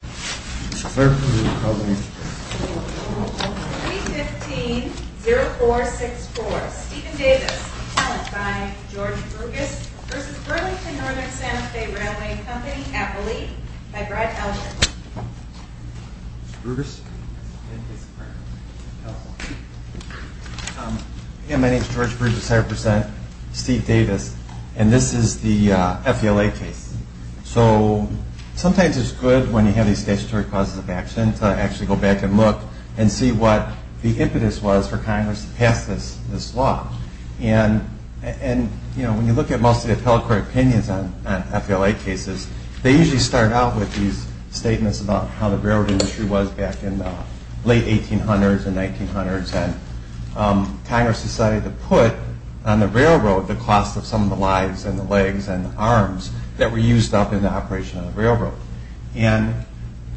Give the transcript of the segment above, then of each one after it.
315-0464, Stephen Davis, appellant by George Brugis v. Burlington Northern Santa Fe Railway Company, Appalachia, by Brad Elgin. My name is George Brugis, I represent Steve Davis, and this is the FELA case. So sometimes it's good when you have these statutory clauses of action to actually go back and look and see what the impetus was for Congress to pass this law. And when you look at most of the appellate court opinions on FLA cases, they usually start out with these statements about how the railroad industry was back in the late 1800s and 1900s and Congress decided to put on the railroad the cost of some of the lives and the legs and the arms that were used up in the operation of the railroad. And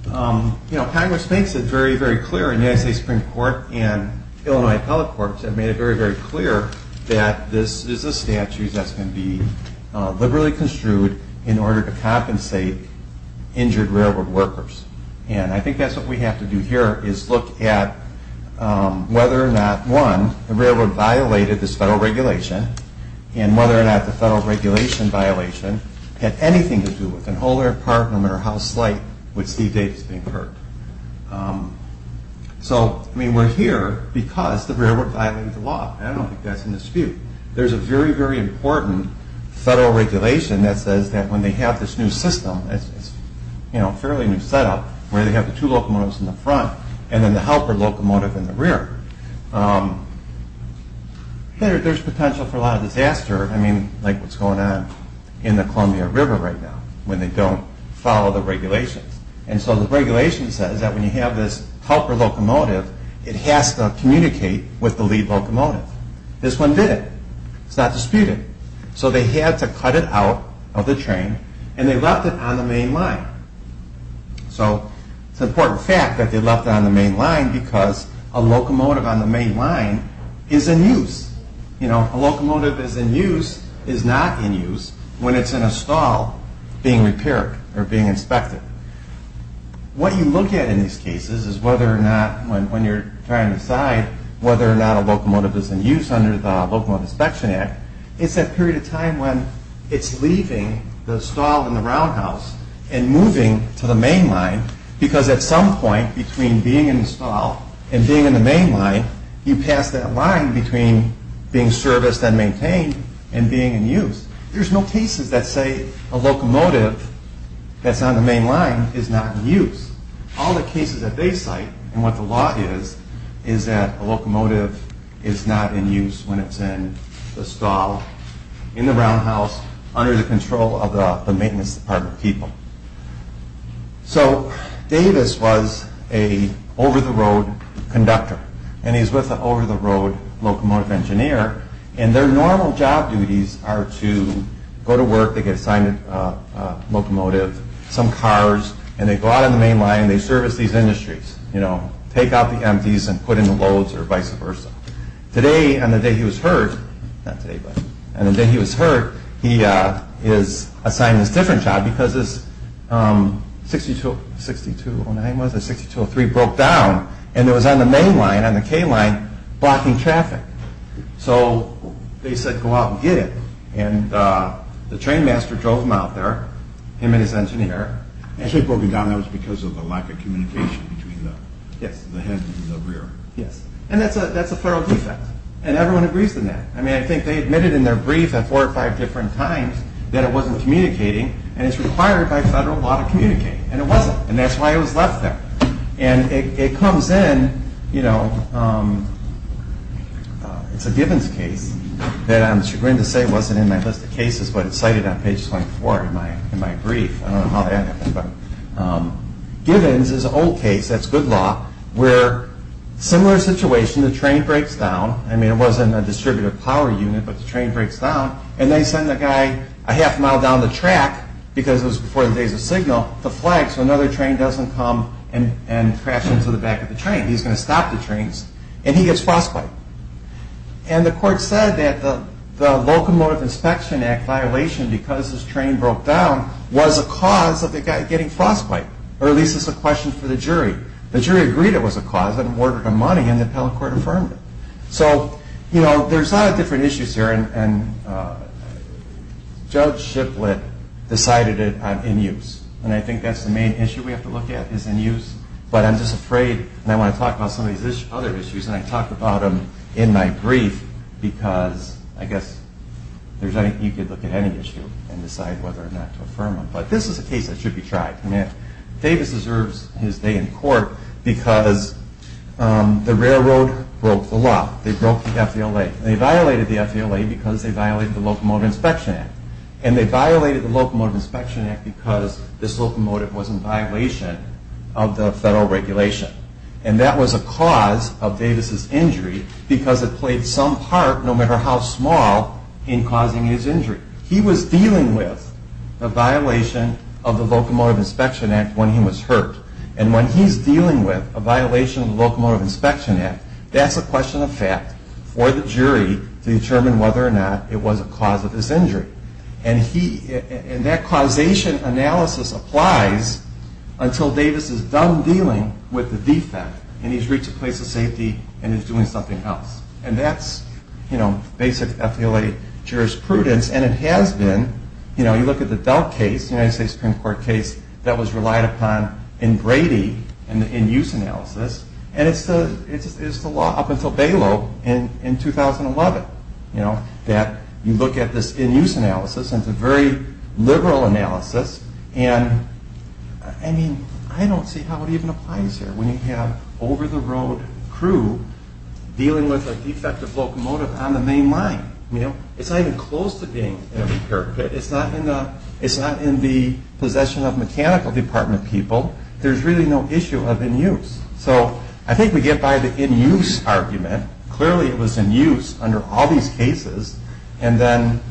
Congress makes it very, very clear in the United States Supreme Court and Illinois appellate courts have made it very, very clear that this is a statute that's going to be liberally construed in order to compensate injured railroad workers. And I think that's what we have to do here is look at whether or not, one, the railroad violated this federal regulation, and whether or not the federal regulation violation had anything to do with an older apartment or house site with Steve Davis being hurt. So we're here because the railroad violated the law. I don't think that's in dispute. There's a very, very important federal regulation that says that when they have this new system, this fairly new setup, where they have the two locomotives in the front and then the helper locomotive in the rear, there's potential for a lot of disaster like what's going on in the Columbia River right now when they don't follow the regulations. And so the regulation says that when you have this helper locomotive, it has to communicate with the lead locomotive. This one didn't. It's not disputed. So they had to cut it out of the train and they left it on the main line. So it's an important fact that they left it on the main line because a locomotive on the main line is in use. A locomotive that's in use is not in use when it's in a stall being repaired or being inspected. What you look at in these cases is whether or not when you're trying to decide whether or not a locomotive is in use under the Locomotive Inspection Act, it's that period of time when it's leaving the stall in the roundhouse and moving to the main line because at some point between being in the stall and being in the main line, you pass that line between being serviced and maintained and being in use. There's no cases that say a locomotive that's on the main line is not in use. All the cases that they cite and what the law is, is that a locomotive is not in use when it's in the stall, in the roundhouse, under the control of the maintenance department people. Davis was an over-the-road conductor and he's with an over-the-road locomotive engineer and their normal job duties are to go to work, they get assigned a locomotive, some cars, and they go out on the main line and they service these industries, take out the empties and put in the loads or vice versa. Today, on the day he was hurt, he is assigned this different job because this 6203 broke down and it was on the main line, on the K line, blocking traffic. So they said go out and get it and the train master drove him out there, him and his engineer. They broke it down because of the lack of communication between the head and the rear. Yes, and that's a federal defect and everyone agrees on that. I think they admitted in their brief at four or five different times that it wasn't communicating and it's required by federal law to communicate and it wasn't and that's why it was left there. It comes in, it's a Givens case that I'm chagrined to say wasn't in my list of cases but it's cited on page 24 in my brief. Givens is an old case, that's good law, where similar situation, the train breaks down, I mean it wasn't a distributed power unit but the train breaks down and they send the guy a half mile down the track because it was before the days of signal to flag so another train doesn't come and crash into the back of the train. He's going to stop the trains and he gets frostbite and the court said that the Locomotive Inspection Act violation because this train broke down was a cause of the guy getting frostbite or at least it's a question for the jury. The jury agreed it was a cause and awarded him money and the appellate court affirmed it. So there's a lot of different issues here and Judge Shiplett decided it in use and I think that's the main issue we have to look at is in use but I'm just afraid and I want to talk about some of these other issues and I talked about them in my brief because I guess you could look at any issue and decide whether or not to affirm them but this is a case that should be tried. Davis deserves his day in court because the railroad broke the law, they broke the FDLA and they violated the FDLA because they violated the Locomotive Inspection Act and they violated the Locomotive Inspection Act because this locomotive was in violation of the federal regulation and that was a cause of Davis' injury because it played some part no matter how small in causing his injury. He was dealing with a violation of the Locomotive Inspection Act when he was hurt and when he's dealing with a violation of the Locomotive Inspection Act, that's a question of fact for the jury to determine whether or not it was a cause of his injury. And that causation analysis applies until Davis is done dealing with the defect and he's reached a place of safety and he's doing something else and that's basic FDLA jurisprudence and it has been. You look at the DELT case, the United States Supreme Court case that was relied upon in Brady and the in-use analysis and it's the law up until BALO in 2011 that you look at this in-use analysis and it's a very liberal analysis and I don't see how it even applies here when you have over-the-road crew dealing with a defective locomotive on the main line. It's not even close to being in a repair kit. It's not in the possession of mechanical department people. There's really no issue of in-use. So I think we get by the in-use argument. Clearly it was in-use under all these cases and then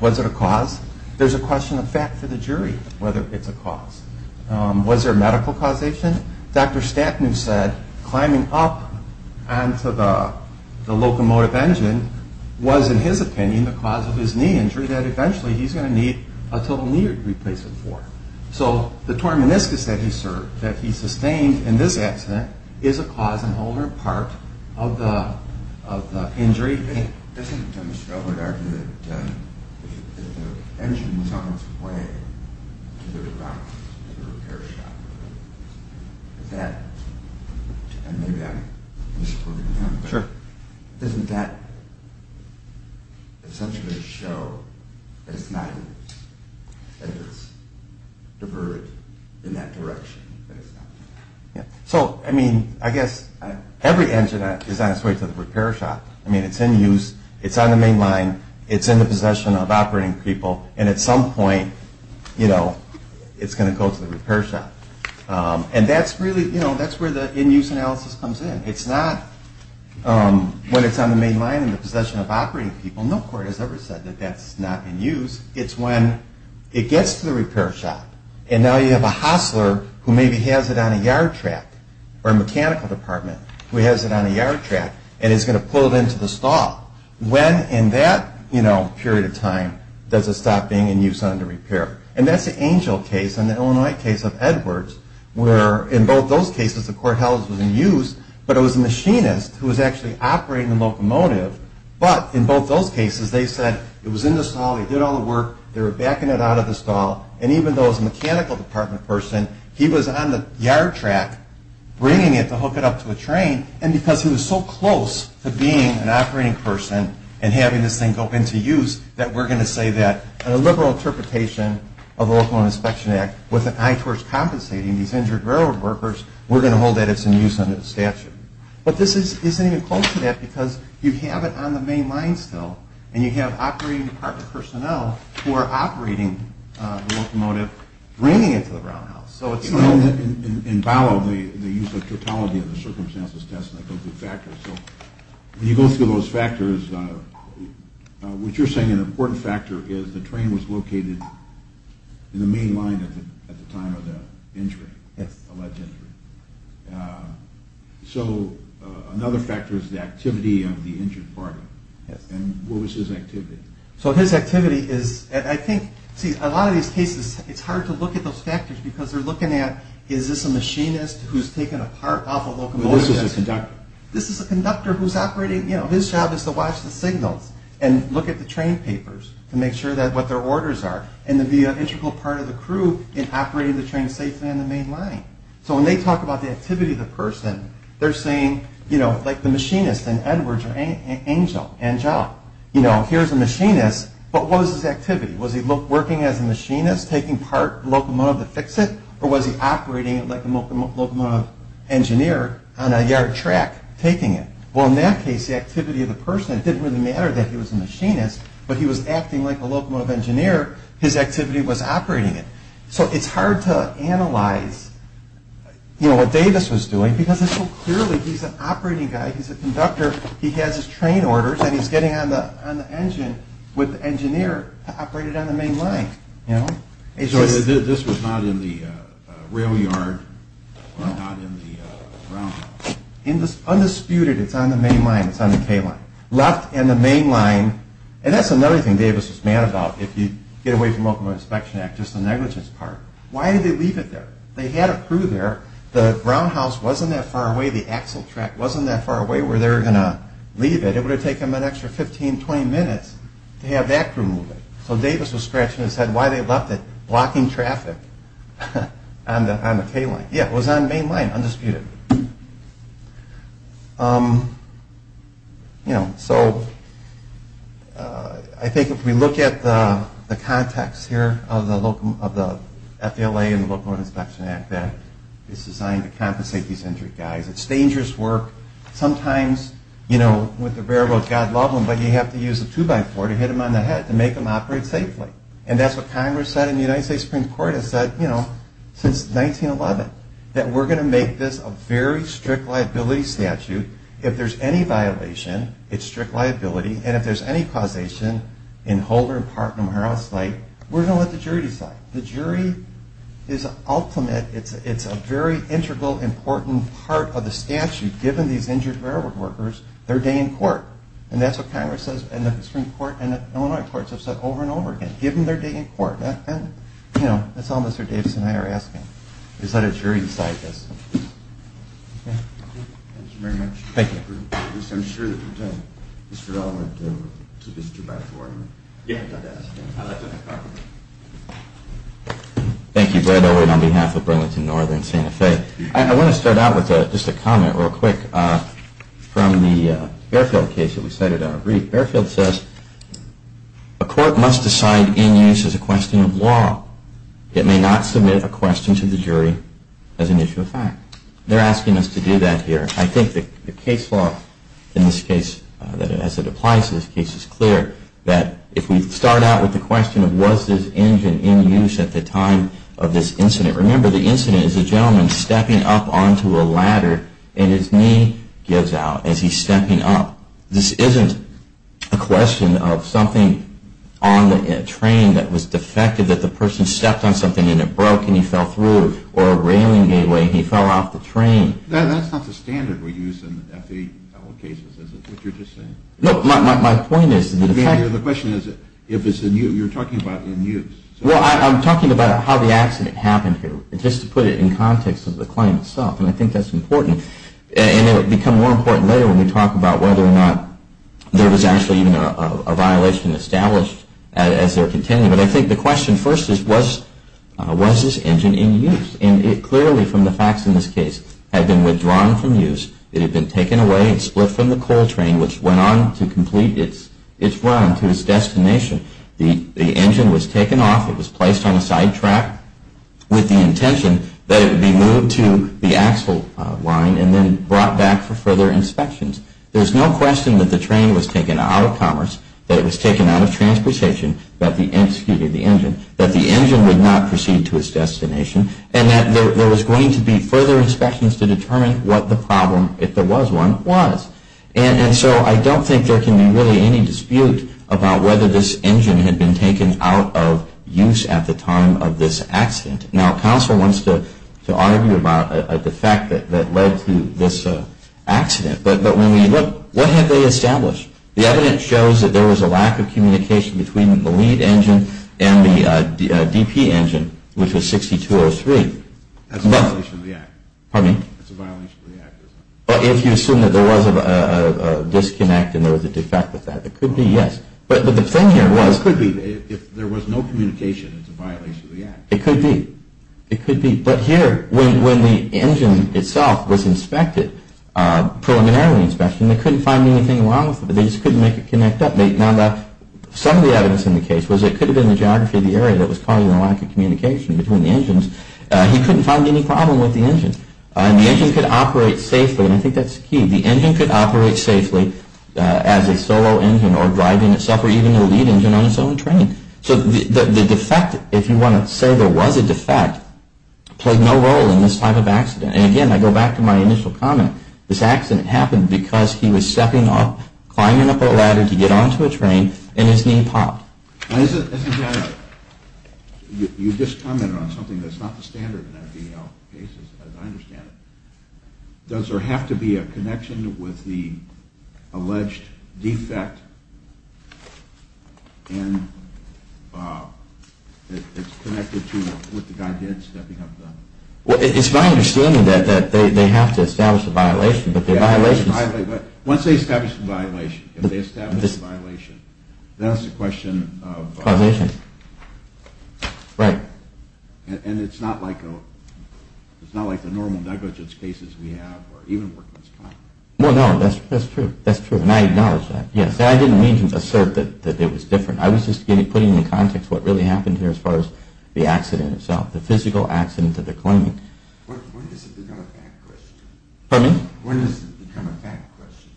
was it a cause? There's a question of fact for the jury whether it's a cause. Was there a medical causation? Dr. Stapnu said climbing up onto the locomotive engine was in his opinion the cause of his knee injury that eventually he's going to need a total knee replacement for. So the torn meniscus that he sustained in this accident is a cause and holder part of the injury. Doesn't Mr. Elwood argue that the engine was on its way to the repair shop? Doesn't that essentially show that it's not in use? That it's diverted in that direction? So, I mean, I guess every engine is on its way to the repair shop. I mean, it's in use. It's on the main line. It's in the possession of operating people and at some point, you know, it's going to go to the repair shop. And that's really, you know, that's where the in-use analysis comes in. It's not when it's on the main line in the possession of operating people. No court has ever said that that's not in use. It's when it gets to the repair shop and now you have a hostler who maybe has it on a yard track or a mechanical department who has it on a yard track and is going to pull it into the stall. When in that, you know, period of time does it stop being in use under repair? And that's the Angel case and the Illinois case of Edwards where in both those cases the court held it was in use, but it was a machinist who was actually operating the locomotive, but in both those cases they said it was in the stall. They did all the work. They were backing it out of the stall and even though it was a mechanical department person, he was on the yard track bringing it to hook it up to a train and because he was so close to being an operating person and having this thing go into use that we're going to say that in a liberal interpretation of the Locomotive Inspection Act with an eye towards compensating these injured railroad workers, we're going to hold that it's in use under the statute. But this isn't even close to that because you have it on the main line still and you have operating department personnel who are operating the locomotive bringing it to the brown house. In Vallow they use the totality of the circumstances test and they go through factors. When you go through those factors, what you're saying an important factor is the train was located in the main line at the time of the injury, alleged injury. So another factor is the activity of the injured department and what was his activity? So his activity is, I think, see a lot of these cases it's hard to look at those factors because they're looking at is this a machinist who's taken apart off a locomotive. This is a conductor. This is a conductor who's operating, his job is to watch the signals and look at the train papers to make sure that what their orders are and to be an integral part of the crew in operating the train safely on the main line. So when they talk about the activity of the person, they're saying, you know, like the machinist in Edwards or Angel. You know, here's a machinist but what was his activity? Was he working as a machinist taking part in the locomotive to fix it or was he operating it like a locomotive engineer on a yard track taking it? Well, in that case, the activity of the person, it didn't really matter that he was a machinist, but he was acting like a locomotive engineer, his activity was operating it. So it's hard to analyze, you know, what Davis was doing because it's so clearly he's an operating guy. He's a conductor. He has his train orders and he's getting on the engine with the engineer to operate it on the main line. This was not in the rail yard or not in the ground. Undisputed, it's on the main line. It's on the K line. Left in the main line and that's another thing Davis was mad about. If you get away from the locomotive inspection act, just the negligence part. Why did they leave it there? They had a crew there. The brown house wasn't that far away. The axle track wasn't that far away where they were going to leave it. It would have taken them an extra 15, 20 minutes to have that crew move it. So Davis was scratching his head why they left it blocking traffic on the K line. Yeah, it was on the main line, undisputed. So I think if we look at the context here of the FALA and the locomotive inspection act, that it's designed to compensate these injured guys. It's dangerous work. Sometimes, you know, with the railroad, God love them, but you have to use a two-by-four to hit them on the head to make them operate safely. And that's what Congress said and the United States Supreme Court has said, you know, since 1911, that we're going to make this a very strict liability statute. If there's any violation, it's strict liability. And if there's any causation in whole or in part, no matter how slight, we're going to let the jury decide. The jury is ultimate. It's a very integral, important part of the statute, given these injured railroad workers their day in court. And that's what Congress says and the Supreme Court and the Illinois courts have said over and over again, give them their day in court. And, you know, that's all Mr. Davis and I are asking, is let a jury decide this. Okay. Thank you very much. Thank you. I'm sure that Mr. Dell went to this two-by-four. Yeah, I did. Thank you, Brad Owen, on behalf of Burlington Northern and Santa Fe. I want to start out with just a comment real quick from the Airfield case that we cited in our brief. Airfield says, a court must decide in use as a question of law. It may not submit a question to the jury as an issue of fact. They're asking us to do that here. I think the case law in this case, as it applies to this case, is clear. That if we start out with the question of was this engine in use at the time of this incident, remember the incident is a gentleman stepping up onto a ladder and his knee gives out as he's stepping up. This isn't a question of something on the train that was defective that the person stepped on something and it broke and he fell through, or a railing gateway and he fell off the train. That's not the standard we use in FAA cases, is it, what you're just saying? No, my point is the defective. The question is if it's in use. You're talking about in use. Well, I'm talking about how the accident happened here, just to put it in context of the claim itself, and I think that's important. And it will become more important later when we talk about whether or not there was actually even a violation established as they're contending. But I think the question first is was this engine in use? And it clearly, from the facts in this case, had been withdrawn from use. It had been taken away and split from the coal train, which went on to complete its run to its destination. The engine was taken off. It was placed on a side track with the intention that it would be moved to the axle line and then brought back for further inspections. There's no question that the train was taken out of commerce, that it was taken out of transportation, that the engine would not proceed to its destination, and that there was going to be further inspections to determine what the problem, if there was one, was. And so I don't think there can be really any dispute about whether this engine had been taken out of use at the time of this accident. Now, counsel wants to argue about the fact that led to this accident, but when we look, what have they established? The evidence shows that there was a lack of communication between the lead engine and the DP engine, which was 6203. That's a violation of the act. Pardon me? That's a violation of the act. But if you assume that there was a disconnect and there was a defect with that, it could be, yes. But the thing here was... It could be. If there was no communication, it's a violation of the act. It could be. It could be. But here, when the engine itself was inspected, preliminarily inspected, they couldn't find anything wrong with it. They just couldn't make it connect up. Now, some of the evidence in the case was it could have been the geography of the area that was causing the lack of communication between the engines. He couldn't find any problem with the engine. The engine could operate safely, and I think that's key. The engine could operate safely as a solo engine or driving itself or even a lead engine on its own train. So the defect, if you want to say there was a defect, played no role in this type of accident. And, again, I go back to my initial comment. This accident happened because he was stepping up, climbing up a ladder to get onto a train, and his knee popped. Now, isn't that a – you just commented on something that's not the standard in IVL cases, as I understand it. Does there have to be a connection with the alleged defect? And it's connected to what the guy did, stepping up the ladder? Well, it's my understanding that they have to establish a violation, but the violations – Once they establish a violation, if they establish a violation, then it's a question of – Causation. Right. And it's not like the normal negligence cases we have or even workman's crime. Well, no, that's true. That's true, and I acknowledge that. Yes, I didn't mean to assert that it was different. I was just putting into context what really happened here as far as the accident itself, the physical accident that they're claiming. When does it become a fact question? Pardon me? When does it become a fact question?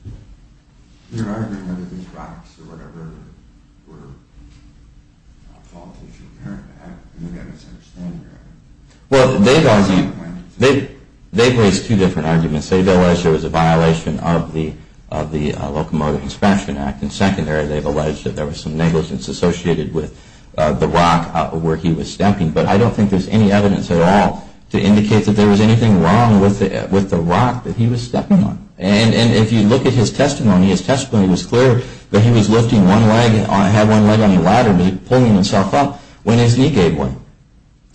You're arguing whether these rocks or whatever were a fault of the inherent act. I think I misunderstand your argument. Well, they've raised two different arguments. They've alleged there was a violation of the Locomotive Expansion Act. And secondary, they've alleged that there was some negligence associated with the rock where he was stepping. But I don't think there's any evidence at all to indicate that there was anything wrong with the rock that he was stepping on. And if you look at his testimony, his testimony was clear that he was lifting one leg – had one leg on the ladder and was pulling himself up when his knee gave way.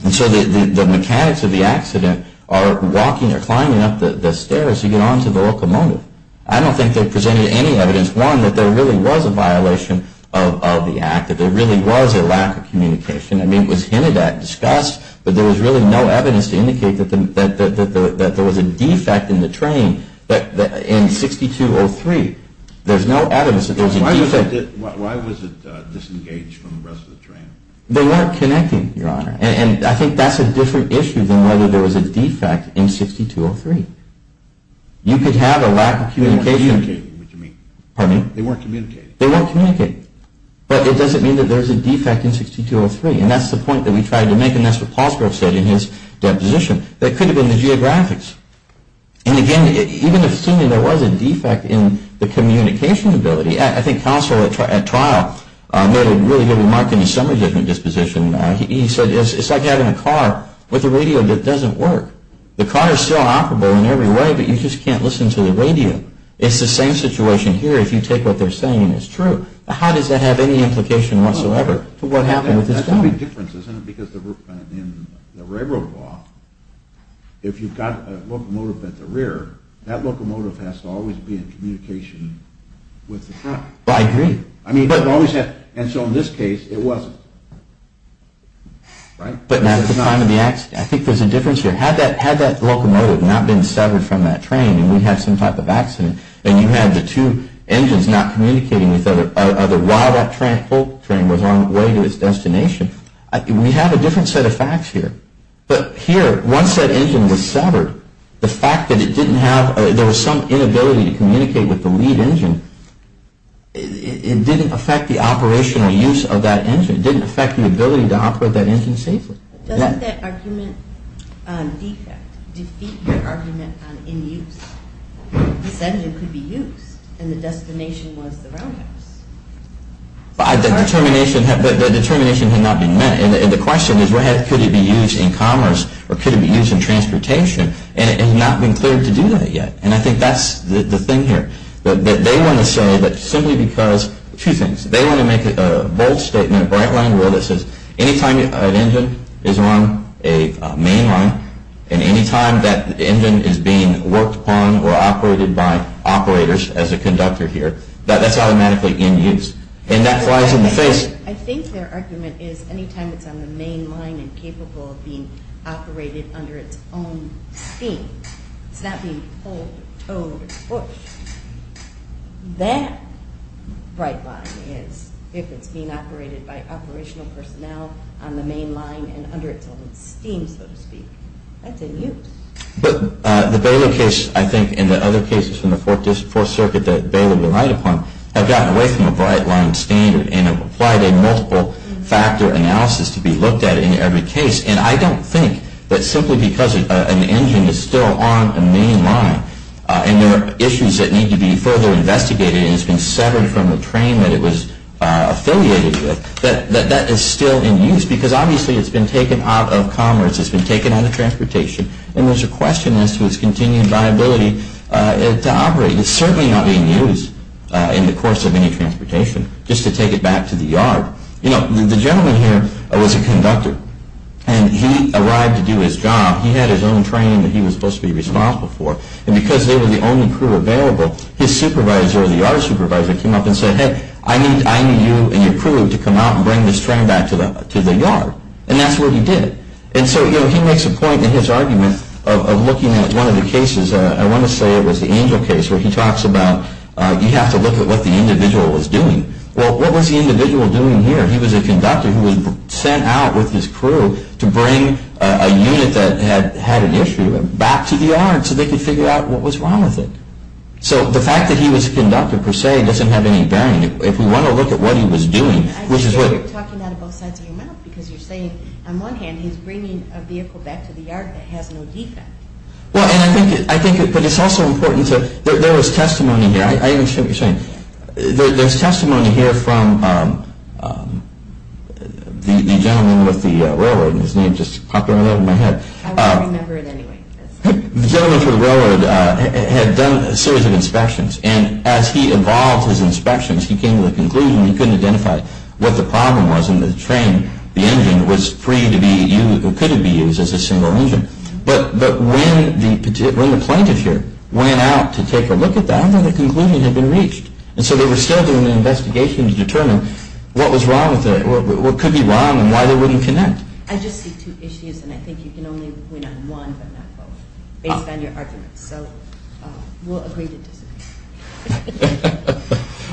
And so the mechanics of the accident are walking or climbing up the stairs to get onto the locomotive. I don't think they presented any evidence, one, that there really was a violation of the act, that there really was a lack of communication. I mean, it was hinted at, discussed, but there was really no evidence to indicate that there was a defect in the train in 6203. There's no evidence that there was a defect. Why was it disengaged from the rest of the train? They weren't connecting, Your Honor. And I think that's a different issue than whether there was a defect in 6203. You could have a lack of communication. They weren't communicating, what you mean? Pardon me? They weren't communicating. They weren't communicating. But it doesn't mean that there's a defect in 6203, and that's the point that we tried to make, and that's what Palsgrove said in his deposition. That could have been the geographics. And again, even if seemingly there was a defect in the communication ability, I think counsel at trial made a really good remark in the summary judgment disposition. He said, it's like having a car with a radio that doesn't work. The car is still operable in every way, but you just can't listen to the radio. It's the same situation here. If you take what they're saying and it's true, how does that have any implication whatsoever for what happened with this car? That's the big difference, isn't it? Because in the railroad law, if you've got a locomotive at the rear, that locomotive has to always be in communication with the front. I agree. And so in this case, it wasn't, right? I think there's a difference here. Had that locomotive not been severed from that train and we had some type of accident and you had the two engines not communicating with each other while that train was on its way to its destination, we have a different set of facts here. But here, once that engine was severed, the fact that it didn't have, there was some inability to communicate with the lead engine, it didn't affect the operational use of that engine. It didn't affect the ability to operate that engine safely. Doesn't that argument defect defeat your argument on in-use? This engine could be used and the destination was the roundhouse. The determination had not been met. And the question is, could it be used in commerce or could it be used in transportation? And it has not been cleared to do that yet. And I think that's the thing here. They want to say that simply because, two things, they want to make a bold statement, a bright line rule that says, anytime an engine is on a mainline and anytime that engine is being worked upon or operated by operators as a conductor here, that's automatically in-use. And that flies in the face. I think their argument is, anytime it's on the mainline and capable of being operated under its own steam, it's not being pulled or towed or pushed, that bright line is, if it's being operated by operational personnel on the mainline and under its own steam, so to speak, that's in-use. But the Baylor case, I think, and the other cases from the Fourth Circuit that Baylor relied upon have gotten away from a bright line standard and have applied a multiple factor analysis to be looked at in every case. And I don't think that simply because an engine is still on a mainline and there are issues that need to be further investigated and it's been severed from the train that it was affiliated with, that that is still in-use because, obviously, it's been taken out of commerce, it's been taken out of transportation, and there's a question as to its continued viability to operate. It's certainly not being used in the course of any transportation, just to take it back to the yard. You know, the gentleman here was a conductor, and he arrived to do his job. He had his own train that he was supposed to be responsible for. And because they were the only crew available, his supervisor, the yard supervisor, came up and said, hey, I need you and your crew to come out and bring this train back to the yard. And that's what he did. And so he makes a point in his argument of looking at one of the cases, I want to say it was the Angel case, where he talks about you have to look at what the individual was doing. Well, what was the individual doing here? He was a conductor who was sent out with his crew to bring a unit that had an issue back to the yard so they could figure out what was wrong with it. So the fact that he was a conductor per se doesn't have any bearing. If we want to look at what he was doing, which is what... I see why you're talking out of both sides of your mouth, because you're saying on one hand he's bringing a vehicle back to the yard that has no defect. Well, and I think, but it's also important to, there was testimony here. I understand what you're saying. There's testimony here from the gentleman with the railroad. His name just popped right out of my head. I won't remember it anyway. The gentleman with the railroad had done a series of inspections. And as he evolved his inspections, he came to the conclusion he couldn't identify what the problem was in the train. The engine was free to be used, or could be used as a single engine. But when the plaintiff here went out to take a look at that, none of the concluding had been reached. And so they were still doing an investigation to determine what was wrong with it, what could be wrong, and why they wouldn't connect. I just see two issues, and I think you can only win on one, but not both, based on your arguments. So we'll agree to disagree.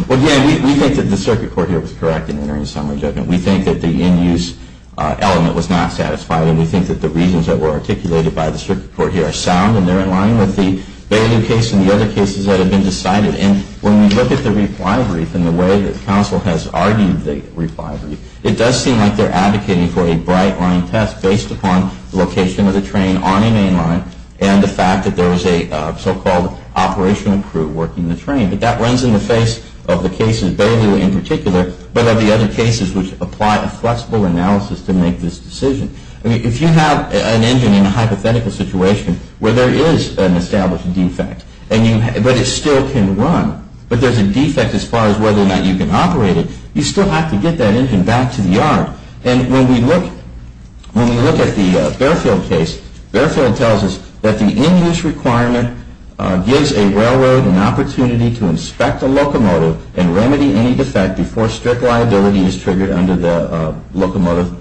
Well, again, we think that the circuit court here was correct in entering a summary judgment. We think that the end-use element was not satisfying, and we think that the reasons that were articulated by the circuit court here are sound, and they're in line with the Beilu case and the other cases that have been decided. And when we look at the reply brief and the way that counsel has argued the reply brief, it does seem like they're advocating for a bright-line test based upon the location of the train on a main line and the fact that there was a so-called operational crew working the train. But that runs in the face of the cases, Beilu in particular, but of the other cases which apply a flexible analysis to make this decision. If you have an engine in a hypothetical situation where there is an established defect, but it still can run, but there's a defect as far as whether or not you can operate it, you still have to get that engine back to the yard. And when we look at the Barefield case, Barefield tells us that the end-use requirement gives a railroad an opportunity to inspect a locomotive and remedy any defect before strict liability is triggered under the Locomotive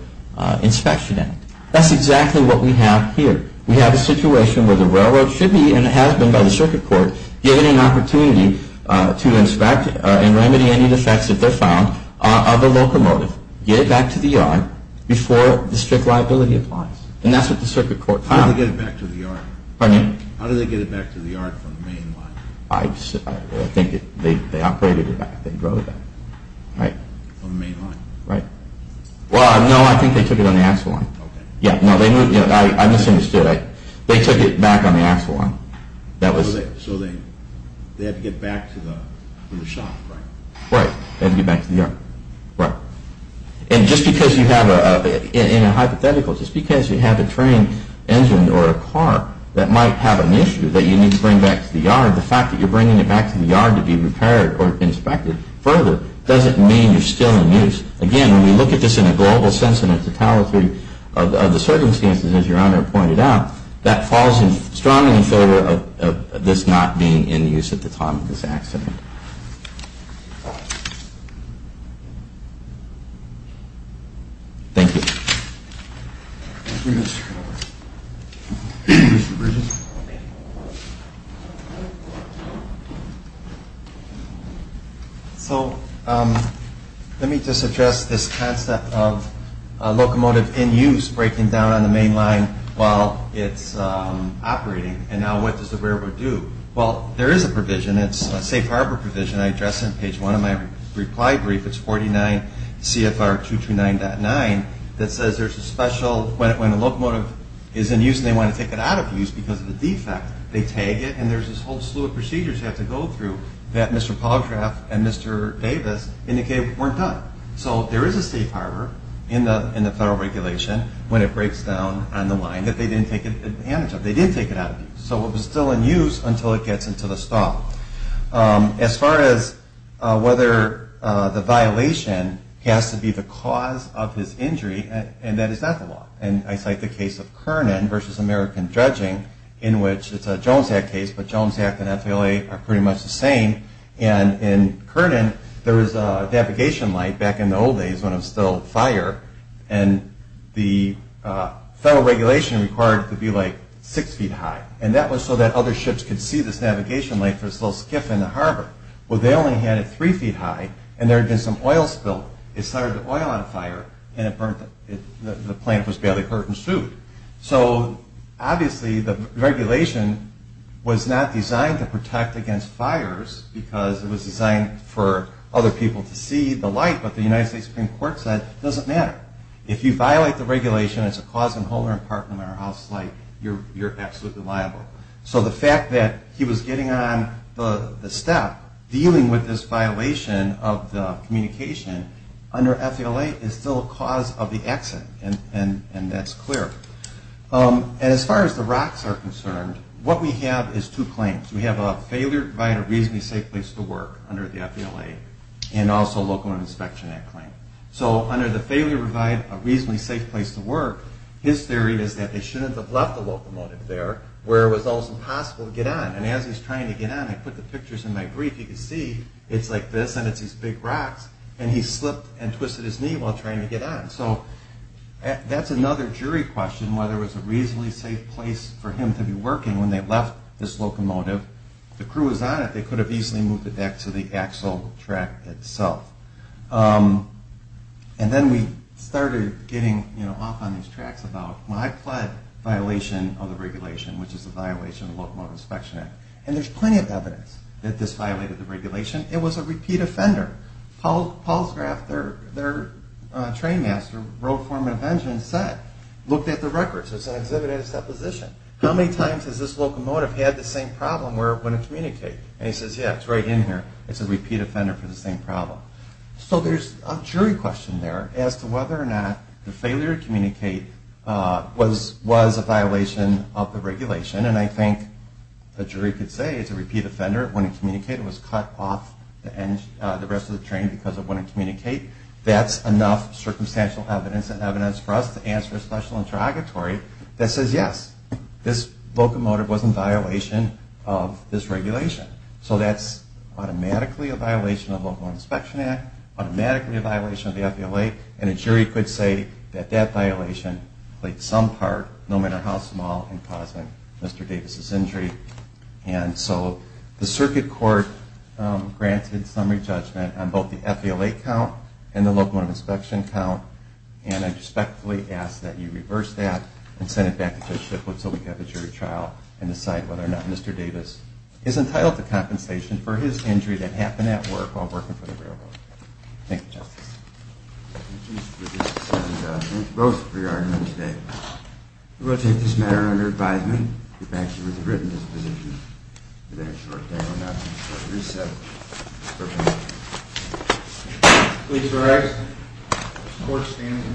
Inspection Act. That's exactly what we have here. We have a situation where the railroad should be, and it has been by the circuit court, given an opportunity to inspect and remedy any defects if they're found of a locomotive, get it back to the yard before the strict liability applies. And that's what the circuit court found. How did they get it back to the yard? Pardon me? How did they get it back to the yard from the main line? I think they operated it back. They drove it back. Right. From the main line? Right. Well, no, I think they took it on the axle line. Okay. Yeah, no, I misunderstood. They took it back on the axle line. So they had to get back to the shop, right? Right. They had to get back to the yard. Right. And just because you have, in a hypothetical, just because you have a train engine or a car that might have an issue that you need to bring back to the yard, the fact that you're bringing it back to the yard to be repaired or inspected further doesn't mean you're still in use. Again, when we look at this in a global sense and a totality of the circumstances, as Your Honor pointed out, that falls strongly in favor of this not being in use at the time of this accident. Thank you. Thank you, Mr. Conover. Mr. Bridges. So let me just address this concept of locomotive in use breaking down on the main line while it's operating. And now what does the railroad do? Well, there is a provision. It's a safe harbor provision. I address it on page one of my reply brief. It's 49 CFR 229.9. That says there's a special, when a locomotive is in use and they want to take it out of use because of a defect, they tag it and there's this whole slew of procedures you have to go through that Mr. Paulcraft and Mr. Davis indicated weren't done. So there is a safe harbor in the federal regulation when it breaks down on the line that they didn't take advantage of. They did take it out of use. So it was still in use until it gets into the stop. As far as whether the violation has to be the cause of his injury, and that is not the law. And I cite the case of Kernan versus American Judging in which it's a Jones Act case, but Jones Act and FLA are pretty much the same. And in Kernan, there was a navigation light back in the old days when it was still fire. And the federal regulation required it to be like six feet high. And that was so that other ships could see this navigation light for this little skiff in the harbor. Well, they only had it three feet high and there had been some oil spill. It started the oil on fire and it burnt the plane. It was barely hurt and sued. So obviously the regulation was not designed to protect against fires because it was designed for other people to see the light, but the United States Supreme Court said it doesn't matter. If you violate the regulation, it's a cause in whole or in part, no matter how slight, you're absolutely liable. So the fact that he was getting on the step, dealing with this violation of the communication under FLA is still a cause of the accident, and that's clear. And as far as the rocks are concerned, what we have is two claims. We have a failure to provide a reasonably safe place to work under the FLA and also a Local Inspection Act claim. So under the failure to provide a reasonably safe place to work, his theory is that they shouldn't have left the locomotive there where it was almost impossible to get on. And as he's trying to get on, I put the pictures in my brief, you can see it's like this and it's these big rocks, and he slipped and twisted his knee while trying to get on. So that's another jury question, whether it was a reasonably safe place for him to be working when they left this locomotive. If the crew was on it, they could have easily moved it back to the actual track itself. And then we started getting off on these tracks about, when I pled violation of the regulation, which is a violation of the Locomotive Inspection Act, and there's plenty of evidence that this violated the regulation, it was a repeat offender. Paul's graph, their train master wrote for him in a pension set, looked at the records, it's an exhibit at his deposition. How many times has this locomotive had the same problem where it wouldn't communicate? And he says, yeah, it's right in here. It's a repeat offender for the same problem. So there's a jury question there as to whether or not the failure to communicate was a violation of the regulation, and I think the jury could say it's a repeat offender, it wouldn't communicate, it was cut off the rest of the train because it wouldn't communicate. That's enough circumstantial evidence and evidence for us to answer a special interrogatory that says, yes, this locomotive was in violation of this regulation. So that's automatically a violation of the Locomotive Inspection Act, automatically a violation of the FVLA, and a jury could say that that violation played some part, no matter how small, in causing Mr. Davis's injury. And so the circuit court granted summary judgment on both the FVLA count and the locomotive inspection count, and I respectfully ask that you reverse that and send it back to Judge Shippwood so we can have a jury trial and decide whether or not Mr. Davis is entitled to compensation for his injury that happened at work while working for the railroad. Thank you, Justice. Thank you, Mr. Shippwood. And thank you both for your argument today. We will take this matter under advisement. The fact that it was written as a position, whether it's short-term or not, is what you said. Please rise. The court stands in recess.